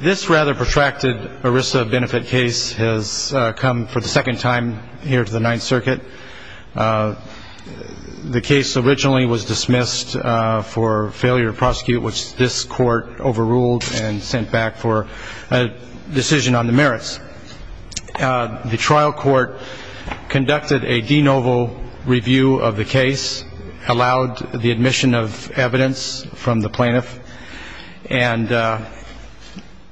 This rather protracted ERISA benefit case has come for the second time here to the Ninth Circuit. The case originally was dismissed for failure to prosecute, which this court overruled and sent back for a decision on the merits. The trial court conducted a de novo review of the case, allowed the admission of evidence from the plaintiff, and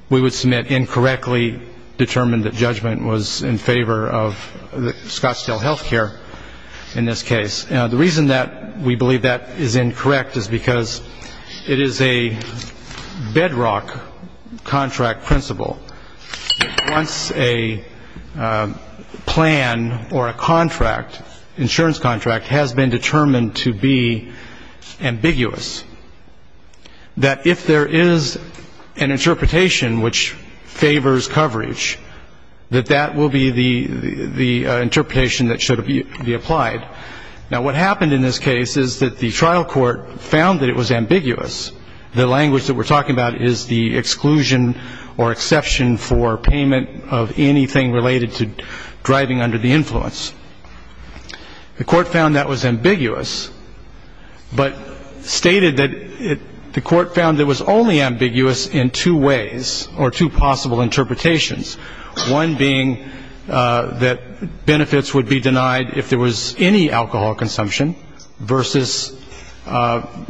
we would submit incorrectly determined that judgment was in favor of Scottsdale Healthcare in this case. The reason that we believe that is incorrect is because it is a bedrock contract principle. Once a plan or a contract, insurance contract, has been determined to be ambiguous, that if there is an interpretation which favors coverage, that that will be the interpretation that should be applied. Now, what happened in this case is that the trial court found that it was ambiguous. The language that we're talking about is the exclusion or exception for payment of anything related to driving under the influence. The court found that was ambiguous but stated that the court found it was only ambiguous in two ways or two possible interpretations, one being that benefits would be denied if there was any alcohol consumption versus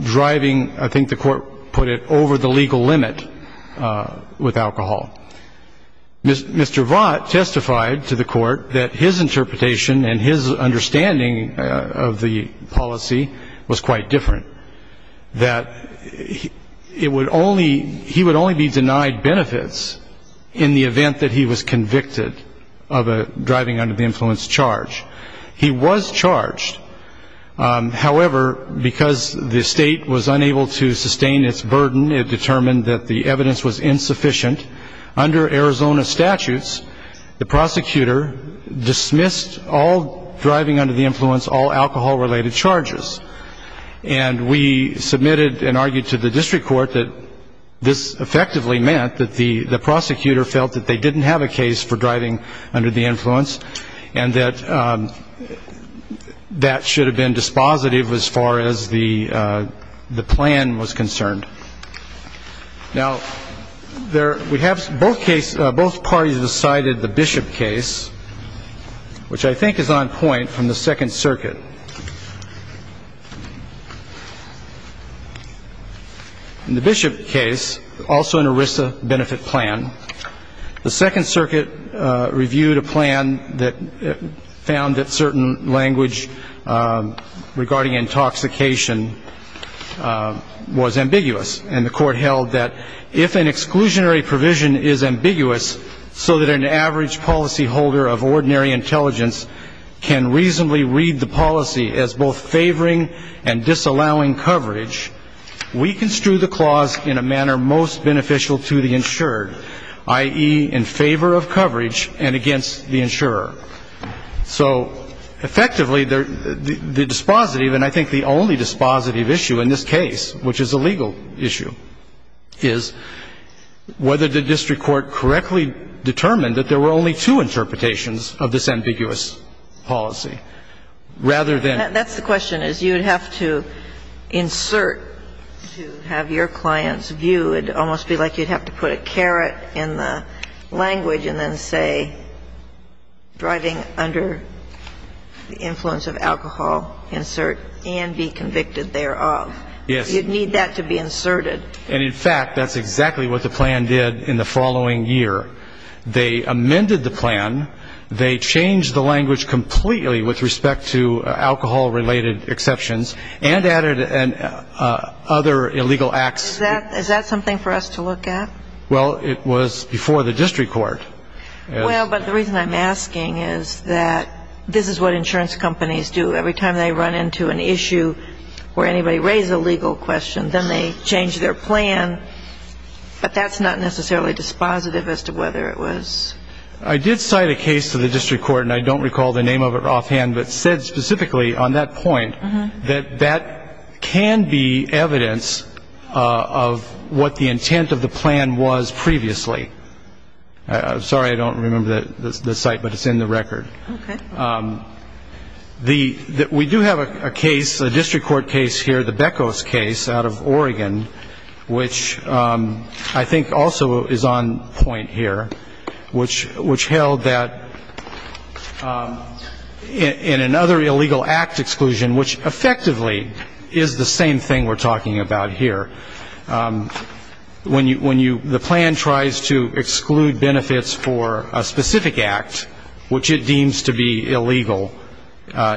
driving, I think the court put it, over the legal limit with alcohol. Mr. Vaught testified to the court that his interpretation and his understanding of the policy was quite different, that it would only be denied benefits in the event that he was convicted of driving under the influence charge. He was charged. However, because the state was unable to sustain its burden, it determined that the evidence was insufficient. Under Arizona statutes, the prosecutor dismissed all driving under the influence, all alcohol-related charges. And we submitted and argued to the district court that this effectively meant that the prosecutor felt that they didn't have a case for driving under the influence and that that should have been dispositive as far as the plan was concerned. Now, we have both parties decided the Bishop case, which I think is on point, from the Second Circuit. In the Bishop case, also an ERISA benefit plan, the Second Circuit reviewed a plan that found that certain language regarding intoxication was ambiguous, and the court held that if an exclusionary provision is ambiguous so that an average policyholder of ordinary intelligence can reasonably read the policy as both favoring and disallowing coverage, we construe the clause in a manner most beneficial to the insured, i.e., in favor of coverage and against the insurer. So effectively, the dispositive, and I think the only dispositive issue in this case, which is a legal issue, is whether the district court correctly determined that there were only two interpretations of this ambiguous policy, rather than ---- That's the question, is you would have to insert to have your client's view. It would almost be like you'd have to put a caret in the language and then say, driving under the influence of alcohol, insert, and be convicted thereof. Yes. You'd need that to be inserted. And, in fact, that's exactly what the plan did in the following year. They amended the plan. They changed the language completely with respect to alcohol-related exceptions and added other illegal acts. Is that something for us to look at? Well, it was before the district court. Well, but the reason I'm asking is that this is what insurance companies do. Every time they run into an issue where anybody raised a legal question, then they change their plan. But that's not necessarily dispositive as to whether it was ---- I did cite a case to the district court, and I don't recall the name of it offhand, but said specifically on that point that that can be evidence of what the intent of the plan was previously. Sorry, I don't remember the site, but it's in the record. Okay. We do have a case, a district court case here, the Beckos case out of Oregon, which I think also is on point here, which held that in another illegal act exclusion, which effectively is the same thing we're talking about here, when the plan tries to exclude benefits for a specific act, which it deems to be illegal,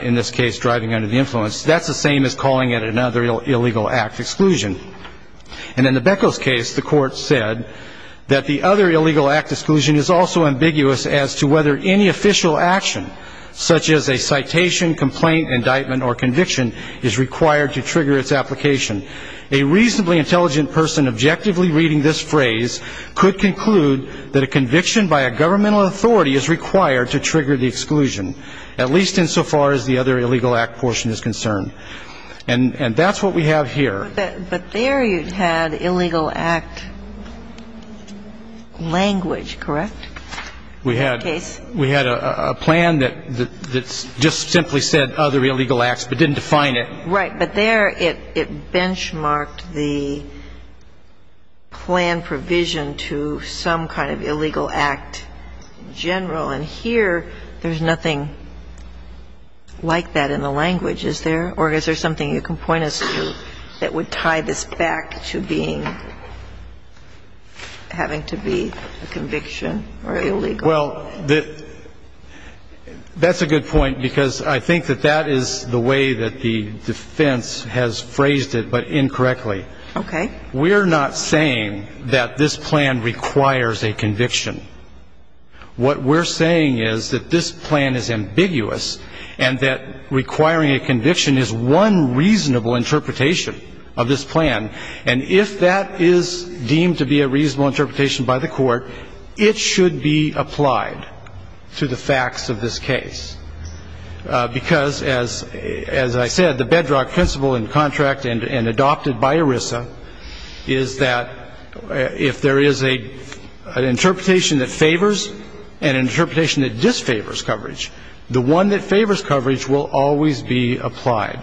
in this case driving under the influence, that's the same as calling it another illegal act exclusion. And in the Beckos case, the court said that the other illegal act exclusion is also ambiguous as to whether any official action, such as a citation, complaint, indictment, or conviction, is required to trigger its application. A reasonably intelligent person objectively reading this phrase could conclude that a conviction by a governmental authority is required to trigger the exclusion, at least insofar as the other illegal act portion is concerned. And that's what we have here. But there you had illegal act language, correct? We had a plan that just simply said other illegal acts, but didn't define it. Right. But there it benchmarked the plan provision to some kind of illegal act in general. And here there's nothing like that in the language, is there? Or is there something you can point us to that would tie this back to being, having to be a conviction or illegal? Well, that's a good point, because I think that that is the way that the defense has phrased it, but incorrectly. Okay. We're not saying that this plan requires a conviction. What we're saying is that this plan is ambiguous and that requiring a conviction is one reasonable interpretation of this plan. And if that is deemed to be a reasonable interpretation by the Court, it should be applied to the facts of this case. Because, as I said, the bedrock principle in contract and adopted by ERISA is that if there is an interpretation that favors and an interpretation that disfavors coverage, the one that favors coverage will always be applied.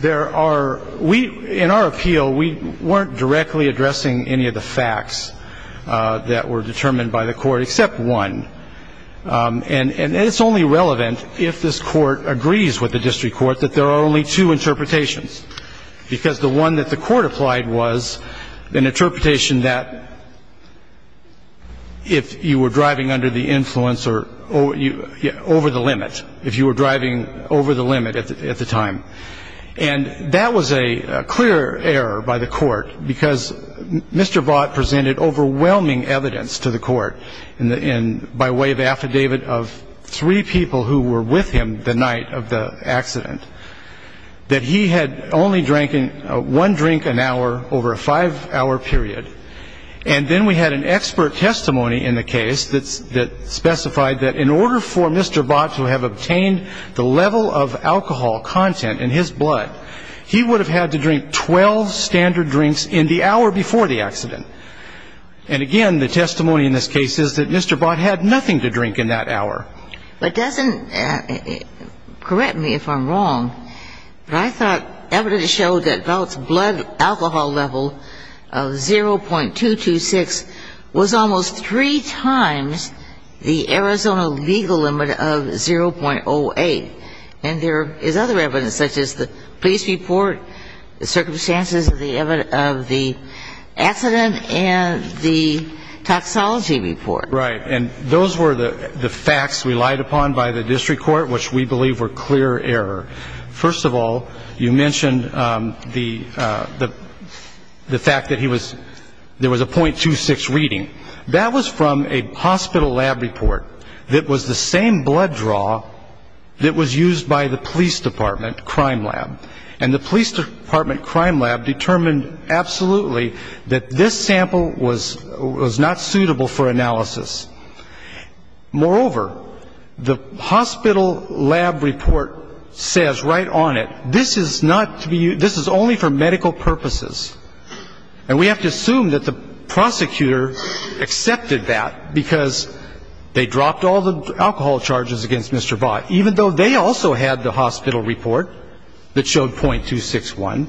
There are we, in our appeal, we weren't directly addressing any of the facts that were determined by the Court except one. And it's only relevant if this Court agrees with the district court that there are only two interpretations. Because the one that the Court applied was an interpretation that if you were driving under the influence or over the limit, if you were driving over the limit at the time, and that was a clear error by the Court, because Mr. Bott presented overwhelming evidence to the Court by way of an affidavit of three people who were with him the night of the accident, that he had only drank one drink an hour over a five-hour period. And then we had an expert testimony in the case that specified that in order for Mr. Bott to have obtained the level of alcohol content in his blood, he would have had to drink 12 standard drinks in the hour before the accident. And, again, the testimony in this case is that Mr. Bott had nothing to drink in that hour. But doesn't, correct me if I'm wrong, but I thought evidence showed that Bott's blood alcohol level of 0.226 was almost three times the Arizona legal limit of 0.08. And there is other evidence, such as the police report, the circumstances of the accident, and the toxology report. Right. And those were the facts relied upon by the district court, which we believe were clear error. First of all, you mentioned the fact that there was a 0.26 reading. That was from a hospital lab report that was the same blood draw that was used by the police department crime lab. And the police department crime lab determined absolutely that this sample was not suitable for analysis. Moreover, the hospital lab report says right on it, this is not to be used, this is only for medical purposes. And we have to assume that the prosecutor accepted that because they dropped all the alcohol charges against Mr. Bott, even though they also had the hospital report that showed 0.261.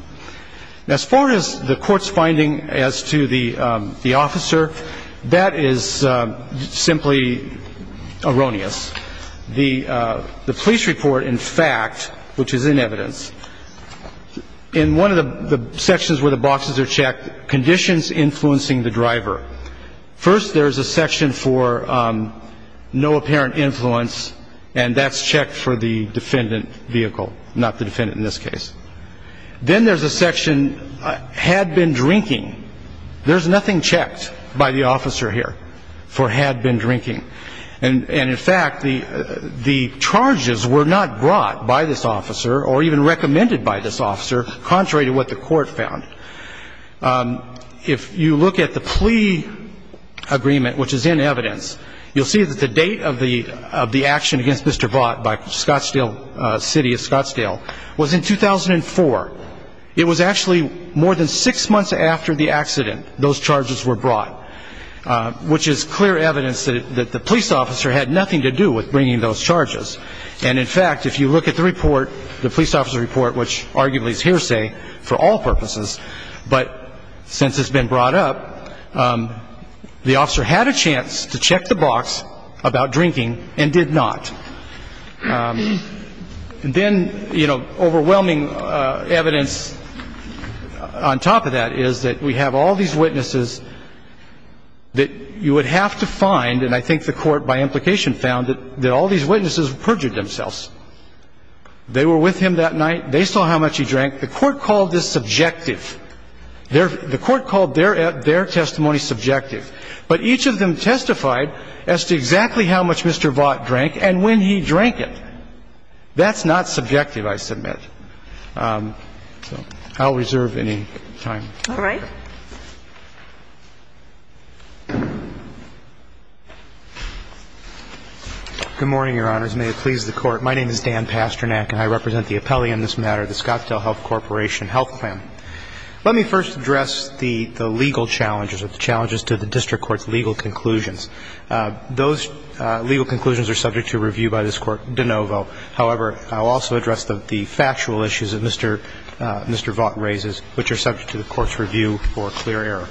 As far as the court's finding as to the officer, that is simply erroneous. The police report, in fact, which is in evidence, in one of the sections where the boxes are checked, conditions influencing the driver. First, there's a section for no apparent influence, and that's checked for the defendant vehicle, not the defendant in this case. Then there's a section had been drinking. There's nothing checked by the officer here for had been drinking. And, in fact, the charges were not brought by this officer or even recommended by this officer, contrary to what the court found. If you look at the plea agreement, which is in evidence, you'll see that the date of the action against Mr. Bott by Scottsdale City of Scottsdale was in 2004. It was actually more than six months after the accident those charges were brought, which is clear evidence that the police officer had nothing to do with bringing those charges. And, in fact, if you look at the report, the police officer report, which arguably is hearsay for all purposes, but since it's been brought up, the officer had a chance to check the box about drinking and did not. And then, you know, overwhelming evidence on top of that is that we have all these witnesses that you would have to find, and I think the Court, by implication, found that all these witnesses perjured themselves. They were with him that night. They saw how much he drank. The Court called this subjective. The Court called their testimony subjective. But each of them testified as to exactly how much Mr. Bott drank and when he drank it. That's not subjective, I submit. I'll reserve any time. All right. Good morning, Your Honors. May it please the Court. My name is Dan Pasternak, and I represent the appellee on this matter, the Scottsdale Health Corporation Health Plan. Let me first address the legal challenges or the challenges to the district court's legal conclusions. Those legal conclusions are subject to review by this Court de novo. However, I'll also address the factual issues that Mr. Bott raises, which are subject to the Court's review for clear error.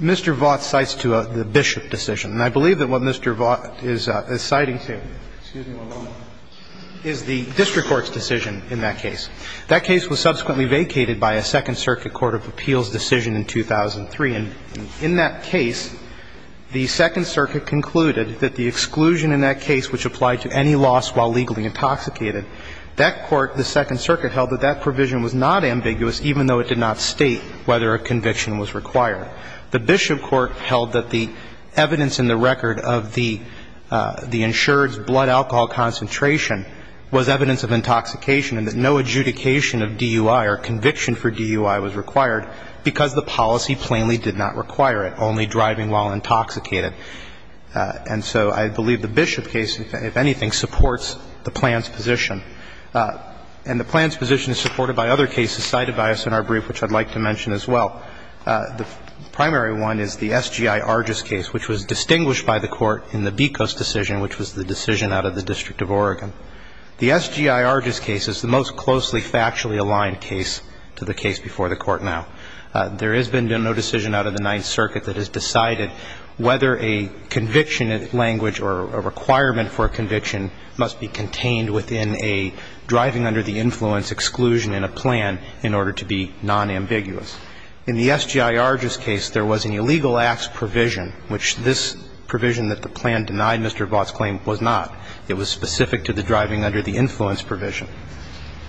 Mr. Bott cites to the Bishop decision. And I believe that what Mr. Bott is citing to is the district court's decision in that case. That case was subsequently vacated by a Second Circuit court of appeals decision in 2003. And in that case, the Second Circuit concluded that the exclusion in that case which applied to any loss while legally intoxicated, that court, the Second Circuit, held that that provision was not ambiguous even though it did not state whether a conviction was required. The Bishop court held that the evidence in the record of the insured's blood alcohol concentration was evidence of intoxication and that no adjudication of DUI or conviction for DUI was required because the policy plainly did not require it, only driving while intoxicated. And so I believe the Bishop case, if anything, supports the plan's position. And the plan's position is supported by other cases cited by us in our brief, which I'd like to mention as well. The primary one is the SGI Arges case, which was distinguished by the Court in the Becos decision, which was the decision out of the District of Oregon. The SGI Arges case is the most closely factually aligned case to the case before the Court now. There has been no decision out of the Ninth Circuit that has decided whether a conviction in a language or a requirement for a conviction must be contained within a driving under the influence exclusion in a plan in order to be nonambiguous. In the SGI Arges case, there was an illegal acts provision, which this provision that the plan denied Mr. Vaught's claim was not. It was specific to the driving under the influence provision.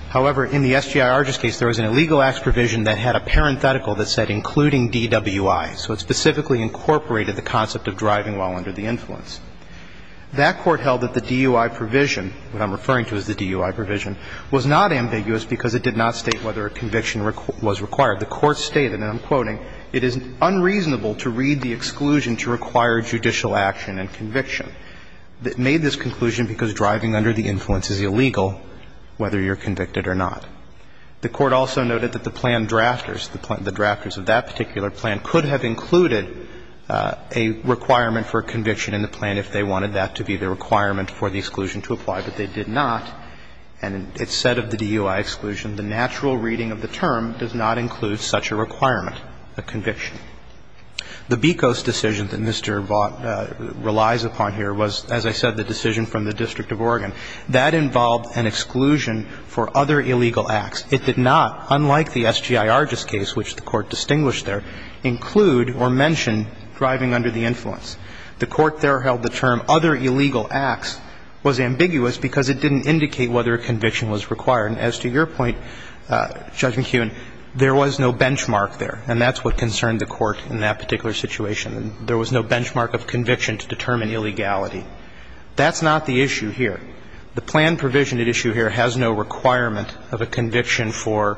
However, in the SGI Arges case, there was an illegal acts provision that had a parenthetical that said including DWI. So it specifically incorporated the concept of driving while under the influence. That Court held that the DUI provision, what I'm referring to as the DUI provision, was not ambiguous because it did not state whether a conviction was required. The Court stated, and I'm quoting, it is unreasonable to read the exclusion to require judicial action and conviction. It made this conclusion because driving under the influence is illegal whether you're convicted or not. The Court also noted that the plan drafters, the drafters of that particular plan could have included a requirement for a conviction in the plan if they wanted that to be the requirement for the exclusion to apply, but they did not. And it said of the DUI exclusion, the natural reading of the term does not include such a requirement, a conviction. The BECOS decision that Mr. Vaught relies upon here was, as I said, the decision from the District of Oregon. That involved an exclusion for other illegal acts. It did not, unlike the SGI Arges case, which the Court distinguished there, include or mention driving under the influence. The Court there held the term other illegal acts was ambiguous because it didn't indicate whether a conviction was required. And as to your point, Judge McKeown, there was no benchmark there, and that's what concerned the Court in that particular situation. There was no benchmark of conviction to determine illegality. That's not the issue here. The plan provision at issue here has no requirement of a conviction for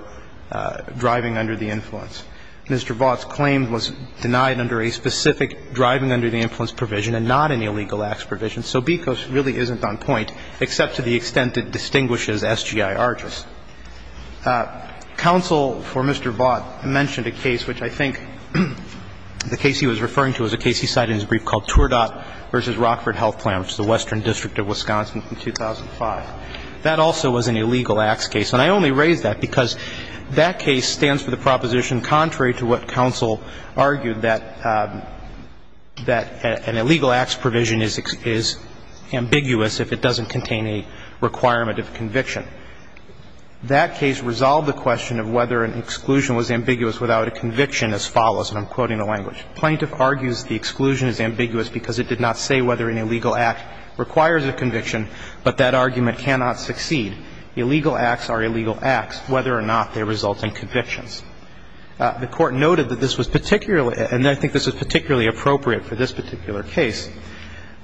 driving under the influence. Mr. Vaught's claim was denied under a specific driving under the influence provision and not an illegal acts provision. So BECOS really isn't on point, except to the extent it distinguishes SGI Arges. Counsel for Mr. Vaught mentioned a case which I think the case he was referring to is a case he cited in his brief called Tourdat v. Rockford Health Plan, which was a case that was brought to the Western District of Wisconsin in 2005. That also was an illegal acts case. And I only raise that because that case stands for the proposition contrary to what counsel argued that an illegal acts provision is ambiguous if it doesn't contain a requirement of conviction. That case resolved the question of whether an exclusion was ambiguous without a conviction as follows, and I'm quoting the language. Plaintiff argues the exclusion is ambiguous because it did not say whether an illegal act requires a conviction, but that argument cannot succeed. Illegal acts are illegal acts whether or not they result in convictions. The Court noted that this was particularly, and I think this was particularly appropriate for this particular case,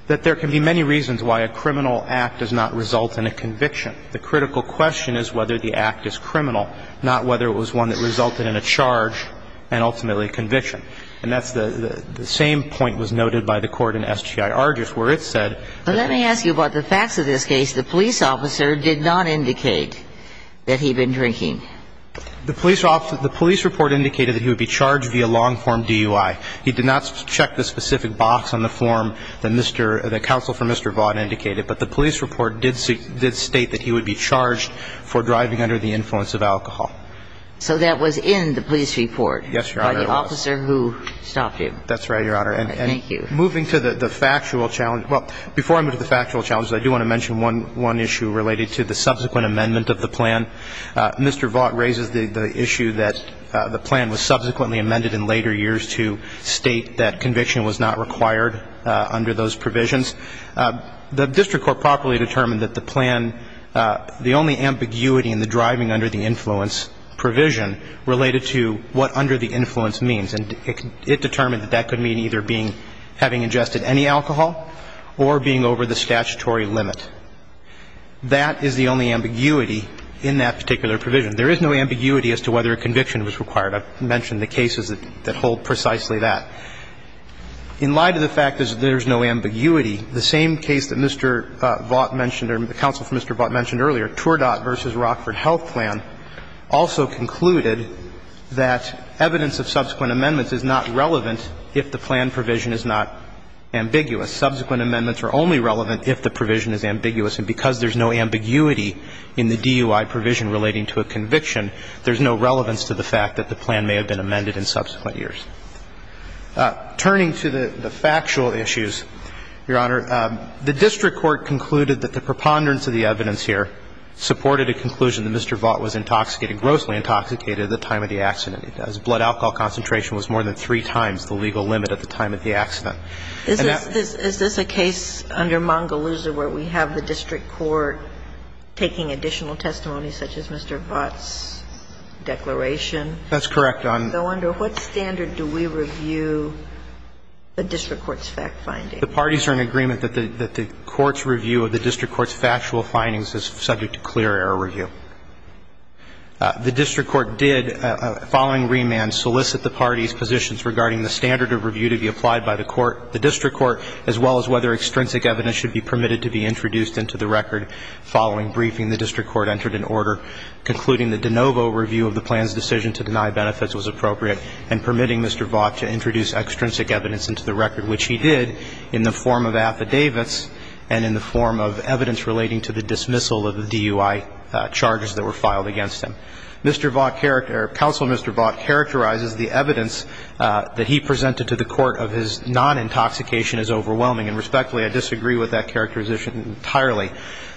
that there can be many reasons why a criminal act does not result in a conviction. The critical question is whether the act is criminal, not whether it was one that resulted in a charge and ultimately a conviction. And that's the same point was noted by the Court in SGI-R just where it said that it was. But let me ask you about the facts of this case. The police officer did not indicate that he'd been drinking. The police report indicated that he would be charged via long form DUI. He did not check the specific box on the form that counsel for Mr. Vaught indicated, but the police report did state that he would be charged for driving under the influence of alcohol. So that was in the police report? Yes, Your Honor, it was. By the officer who stopped him. That's right, Your Honor. Thank you. And moving to the factual challenge. Well, before I move to the factual challenge, I do want to mention one issue related to the subsequent amendment of the plan. Mr. Vaught raises the issue that the plan was subsequently amended in later years to state that conviction was not required under those provisions. The district court properly determined that the plan, the only ambiguity in the driving under the influence provision related to what under the influence means. And it determined that that could mean either being, having ingested any alcohol or being over the statutory limit. That is the only ambiguity in that particular provision. There is no ambiguity as to whether a conviction was required. I've mentioned the cases that hold precisely that. In light of the fact that there's no ambiguity, the same case that Mr. Vaught mentioned earlier, Tourdat v. Rockford Health Plan, also concluded that evidence of subsequent amendments is not relevant if the plan provision is not ambiguous. Subsequent amendments are only relevant if the provision is ambiguous. And because there's no ambiguity in the DUI provision relating to a conviction, there's no relevance to the fact that the plan may have been amended in subsequent years. Turning to the factual issues, Your Honor, the district court concluded that the preponderance of the evidence here supported a conclusion that Mr. Vaught was intoxicated, grossly intoxicated, at the time of the accident. His blood alcohol concentration was more than three times the legal limit at the time of the accident. Is this a case under Mongoloosa where we have the district court taking additional testimony such as Mr. Vaught's declaration? That's correct. So under what standard do we review the district court's fact-finding? The parties are in agreement that the court's review of the district court's factual findings is subject to clear error review. The district court did, following remand, solicit the parties' positions regarding the standard of review to be applied by the court, the district court, as well as whether extrinsic evidence should be permitted to be introduced into the record following briefing. The district court entered an order concluding that de novo review of the plan's into the record, which he did in the form of affidavits and in the form of evidence relating to the dismissal of the DUI charges that were filed against him. Mr. Vaught character or counsel Mr. Vaught characterizes the evidence that he presented to the court of his non-intoxication as overwhelming. And respectfully, I disagree with that characterization entirely.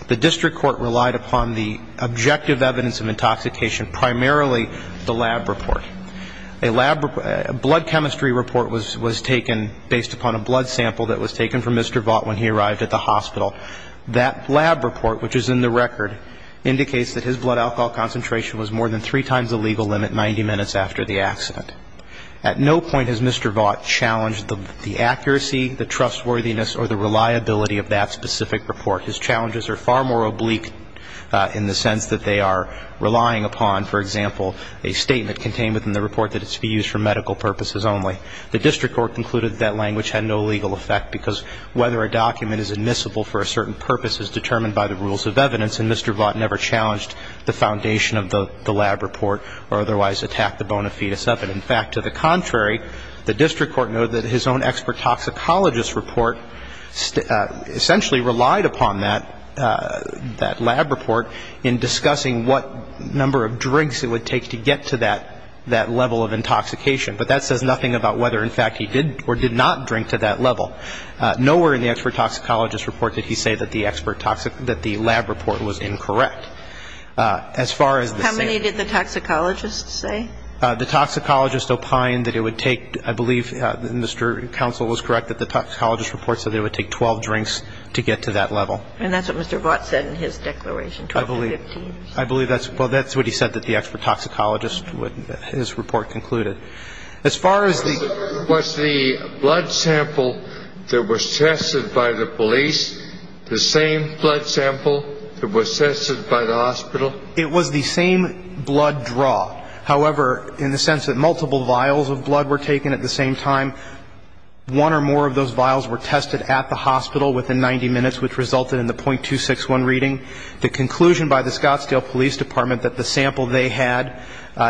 The district court relied upon the objective evidence of intoxication, primarily the lab report. A lab blood chemistry report was taken based upon a blood sample that was taken from Mr. Vaught when he arrived at the hospital. That lab report, which is in the record, indicates that his blood alcohol concentration was more than three times the legal limit 90 minutes after the accident. At no point has Mr. Vaught challenged the accuracy, the trustworthiness, or the reliability of that specific report. His challenges are far more oblique in the sense that they are relying upon, for medical purposes only. The district court concluded that language had no legal effect because whether a document is admissible for a certain purpose is determined by the rules of evidence and Mr. Vaught never challenged the foundation of the lab report or otherwise attacked the bona fides of it. In fact, to the contrary, the district court noted that his own expert toxicologist report essentially relied upon that lab report in discussing what number of drinks it would take to get to that level of intoxication. But that says nothing about whether, in fact, he did or did not drink to that level. Nowhere in the expert toxicologist report did he say that the lab report was incorrect. As far as the same ---- How many did the toxicologist say? The toxicologist opined that it would take, I believe Mr. Counsel was correct, that the toxicologist reports that it would take 12 drinks to get to that level. And that's what Mr. Vaught said in his declaration, 12 to 15. I believe that's what he said that the expert toxicologist, his report concluded. As far as the ---- Was the blood sample that was tested by the police the same blood sample that was tested by the hospital? It was the same blood draw. However, in the sense that multiple vials of blood were taken at the same time, one or more of those vials were tested at the hospital within 90 minutes, which resulted in the .261 reading. The conclusion by the Scottsdale Police Department that the sample they had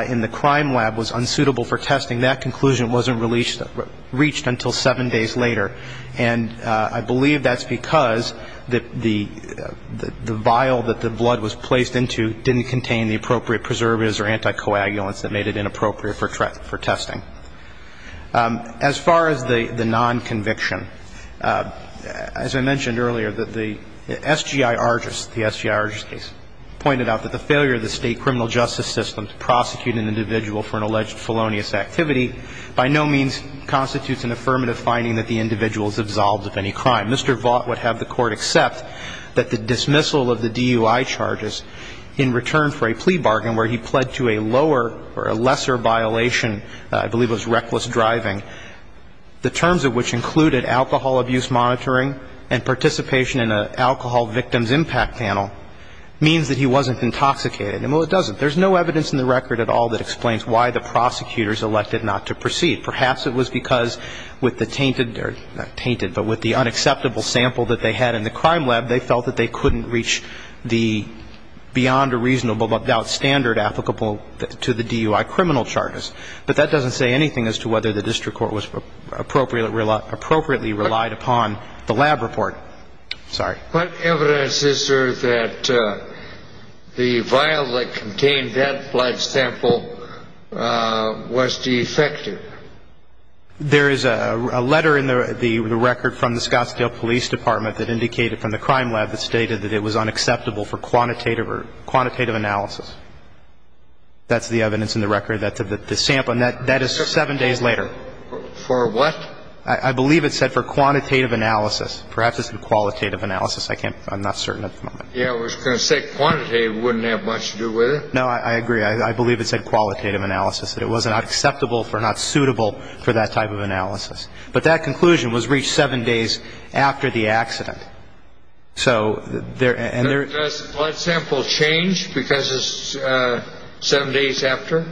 in the crime lab was unsuitable for testing, that conclusion wasn't reached until seven days later. And I believe that's because the vial that the blood was placed into didn't contain the appropriate preservatives or anticoagulants that made it inappropriate for testing. As far as the nonconviction, as I mentioned earlier, the SGI Argus, the SGI Argus case, pointed out that the failure of the state criminal justice system to prosecute an individual for an alleged felonious activity by no means constitutes an affirmative finding that the individual is absolved of any crime. Mr. Vaught would have the court accept that the dismissal of the DUI charges in return for a plea bargain where he pled to a lower or a lesser violation, I believe it was reckless driving, the terms of which included alcohol abuse monitoring and participation in an alcohol victim's impact panel, means that he wasn't intoxicated. And, well, it doesn't. There's no evidence in the record at all that explains why the prosecutors elected not to proceed. Perhaps it was because with the tainted or not tainted, but with the unacceptable sample that they had in the crime lab, they felt that they couldn't reach the beyond a reasonable but without standard applicable to the DUI criminal charges. But that doesn't say anything as to whether the district court was appropriately relied upon the lab report. Sorry. What evidence is there that the vial that contained that blood sample was defective? There is a letter in the record from the Scottsdale Police Department that indicated from the crime lab that stated that it was unacceptable for quantitative analysis. That's the evidence in the record, that the sample, and that is seven days later. For what? I believe it said for quantitative analysis. Perhaps it said qualitative analysis. I can't, I'm not certain at the moment. Yeah, it was going to say quantitative. It wouldn't have much to do with it. No, I agree. I believe it said qualitative analysis, that it was not acceptable for, not suitable for that type of analysis. But that conclusion was reached seven days after the accident. Does the blood sample change because it's seven days after?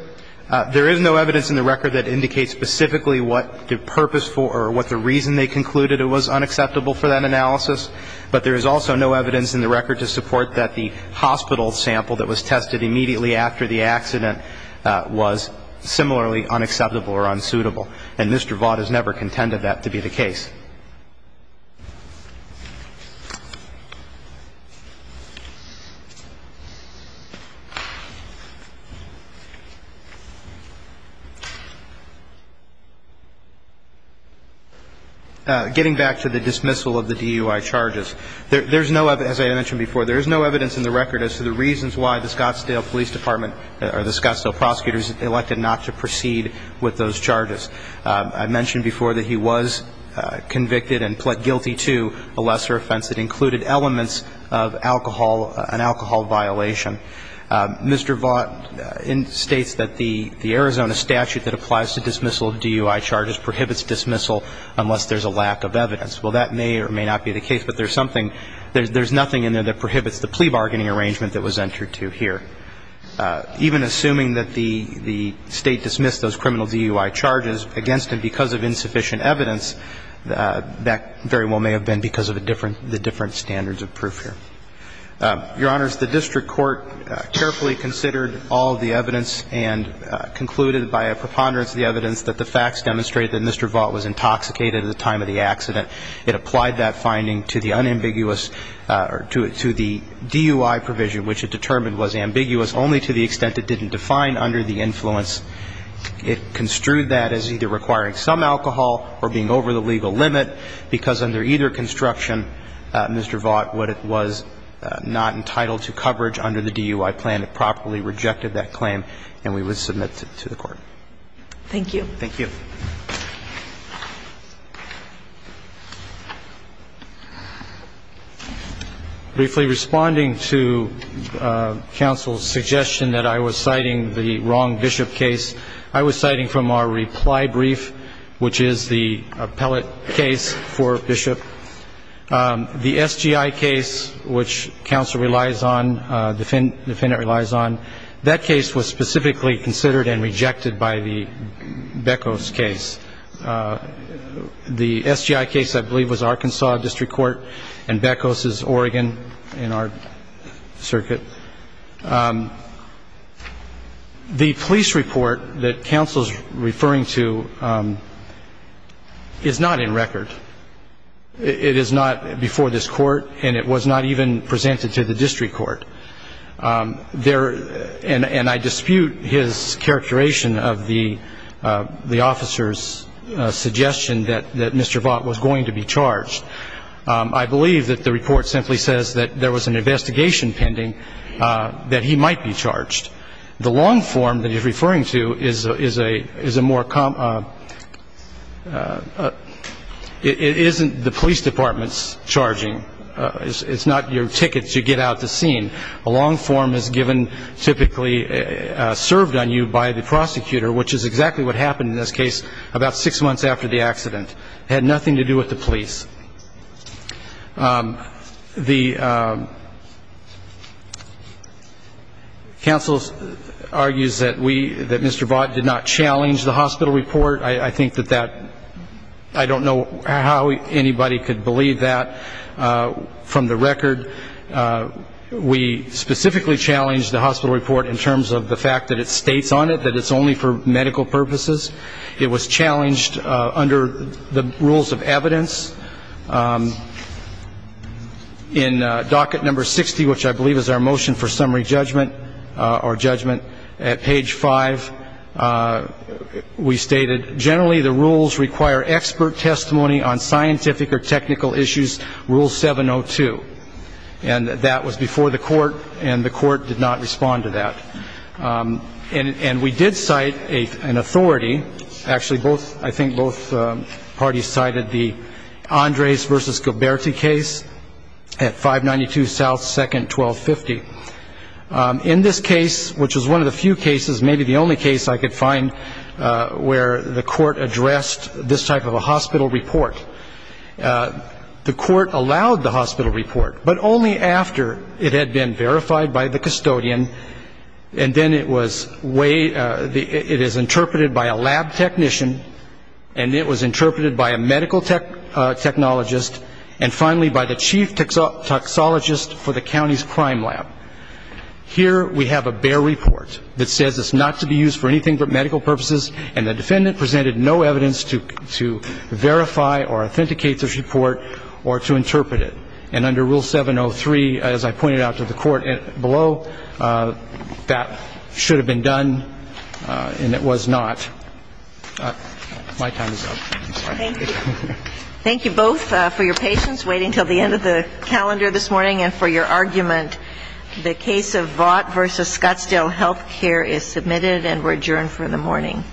There is no evidence in the record that indicates specifically what the purpose for or what the reason they concluded it was unacceptable for that analysis. But there is also no evidence in the record to support that the hospital sample that was tested immediately after the accident was similarly unacceptable or unsuitable. And Mr. Vaught has never contended that to be the case. Thank you. Getting back to the dismissal of the DUI charges, there's no, as I mentioned before, there is no evidence in the record as to the reasons why the Scottsdale Police Department or the Scottsdale prosecutors elected not to proceed with those charges. I mentioned before that he was convicted and pled guilty to a lesser offense that included elements of alcohol, an alcohol violation. Mr. Vaught states that the Arizona statute that applies to dismissal of DUI charges prohibits dismissal unless there's a lack of evidence. Well, that may or may not be the case, but there's something, there's nothing in there that prohibits the plea bargaining arrangement that was entered to here. Even assuming that the State dismissed those criminal DUI charges against him because of insufficient evidence, that very well may have been because of the different standards of proof here. Your Honors, the district court carefully considered all the evidence and concluded by a preponderance of the evidence that the facts demonstrate that Mr. Vaught was intoxicated at the time of the accident. It applied that finding to the unambiguous or to the DUI provision, which it determined was ambiguous only to the extent it didn't define under the influence. It construed that as either requiring some alcohol or being over the legal limit because under either construction, Mr. Vaught, what it was not entitled to coverage under the DUI plan, it properly rejected that claim, and we would submit it to the Thank you. Thank you. Briefly responding to counsel's suggestion that I was citing the wrong Bishop case, I was citing from our reply brief, which is the appellate case for Bishop. The SGI case, which counsel relies on, defendant relies on, that case was specifically considered and rejected by the Beckos case. The SGI case, I believe, was Arkansas district court, and Beckos is Oregon in our circuit. The police report that counsel is referring to is not in record. It is not before this court, and it was not even presented to the district court. And I dispute his characterization of the officer's suggestion that Mr. Vaught was going to be charged. I believe that the report simply says that there was an investigation pending that he might be charged. The long form that he's referring to isn't the police department's charging. It's not your ticket to get out the scene. A long form is typically served on you by the prosecutor, which is exactly what happened in this case about six months after the accident. It had nothing to do with the police. Counsel argues that Mr. Vaught did not challenge the hospital report. I think that that, I don't know how anybody could believe that from the record. We specifically challenged the hospital report in terms of the fact that it states on it that it's only for medical purposes. It was challenged under the rules of evidence. In docket number 60, which I believe is our motion for summary judgment or judgment at page five, we stated that generally the rules require expert testimony on scientific or technical issues, rule 702. And that was before the court, and the court did not respond to that. And we did cite an authority. Actually, I think both parties cited the Andres v. Gilberti case at 592 South 2nd, 1250. In this case, which was one of the few cases, maybe the only case I could find where the court addressed this type of a hospital report, the court allowed the hospital report, but only after it had been verified by the custodian, and then it was way, it is interpreted by a lab technician, and it was interpreted by a medical technologist, and finally by the chief toxologist for the county's crime lab. Here we have a bare report that says it's not to be used for anything but medical purposes, and the defendant presented no evidence to verify or authenticate this report or to interpret it. And under rule 703, as I pointed out to the court below, that should have been done, and it was not. My time is up. Thank you both for your patience, waiting until the end of the calendar this morning, and for your argument. The case of Vaught v. Scottsdale Health Care is submitted, and we're adjourned for the morning.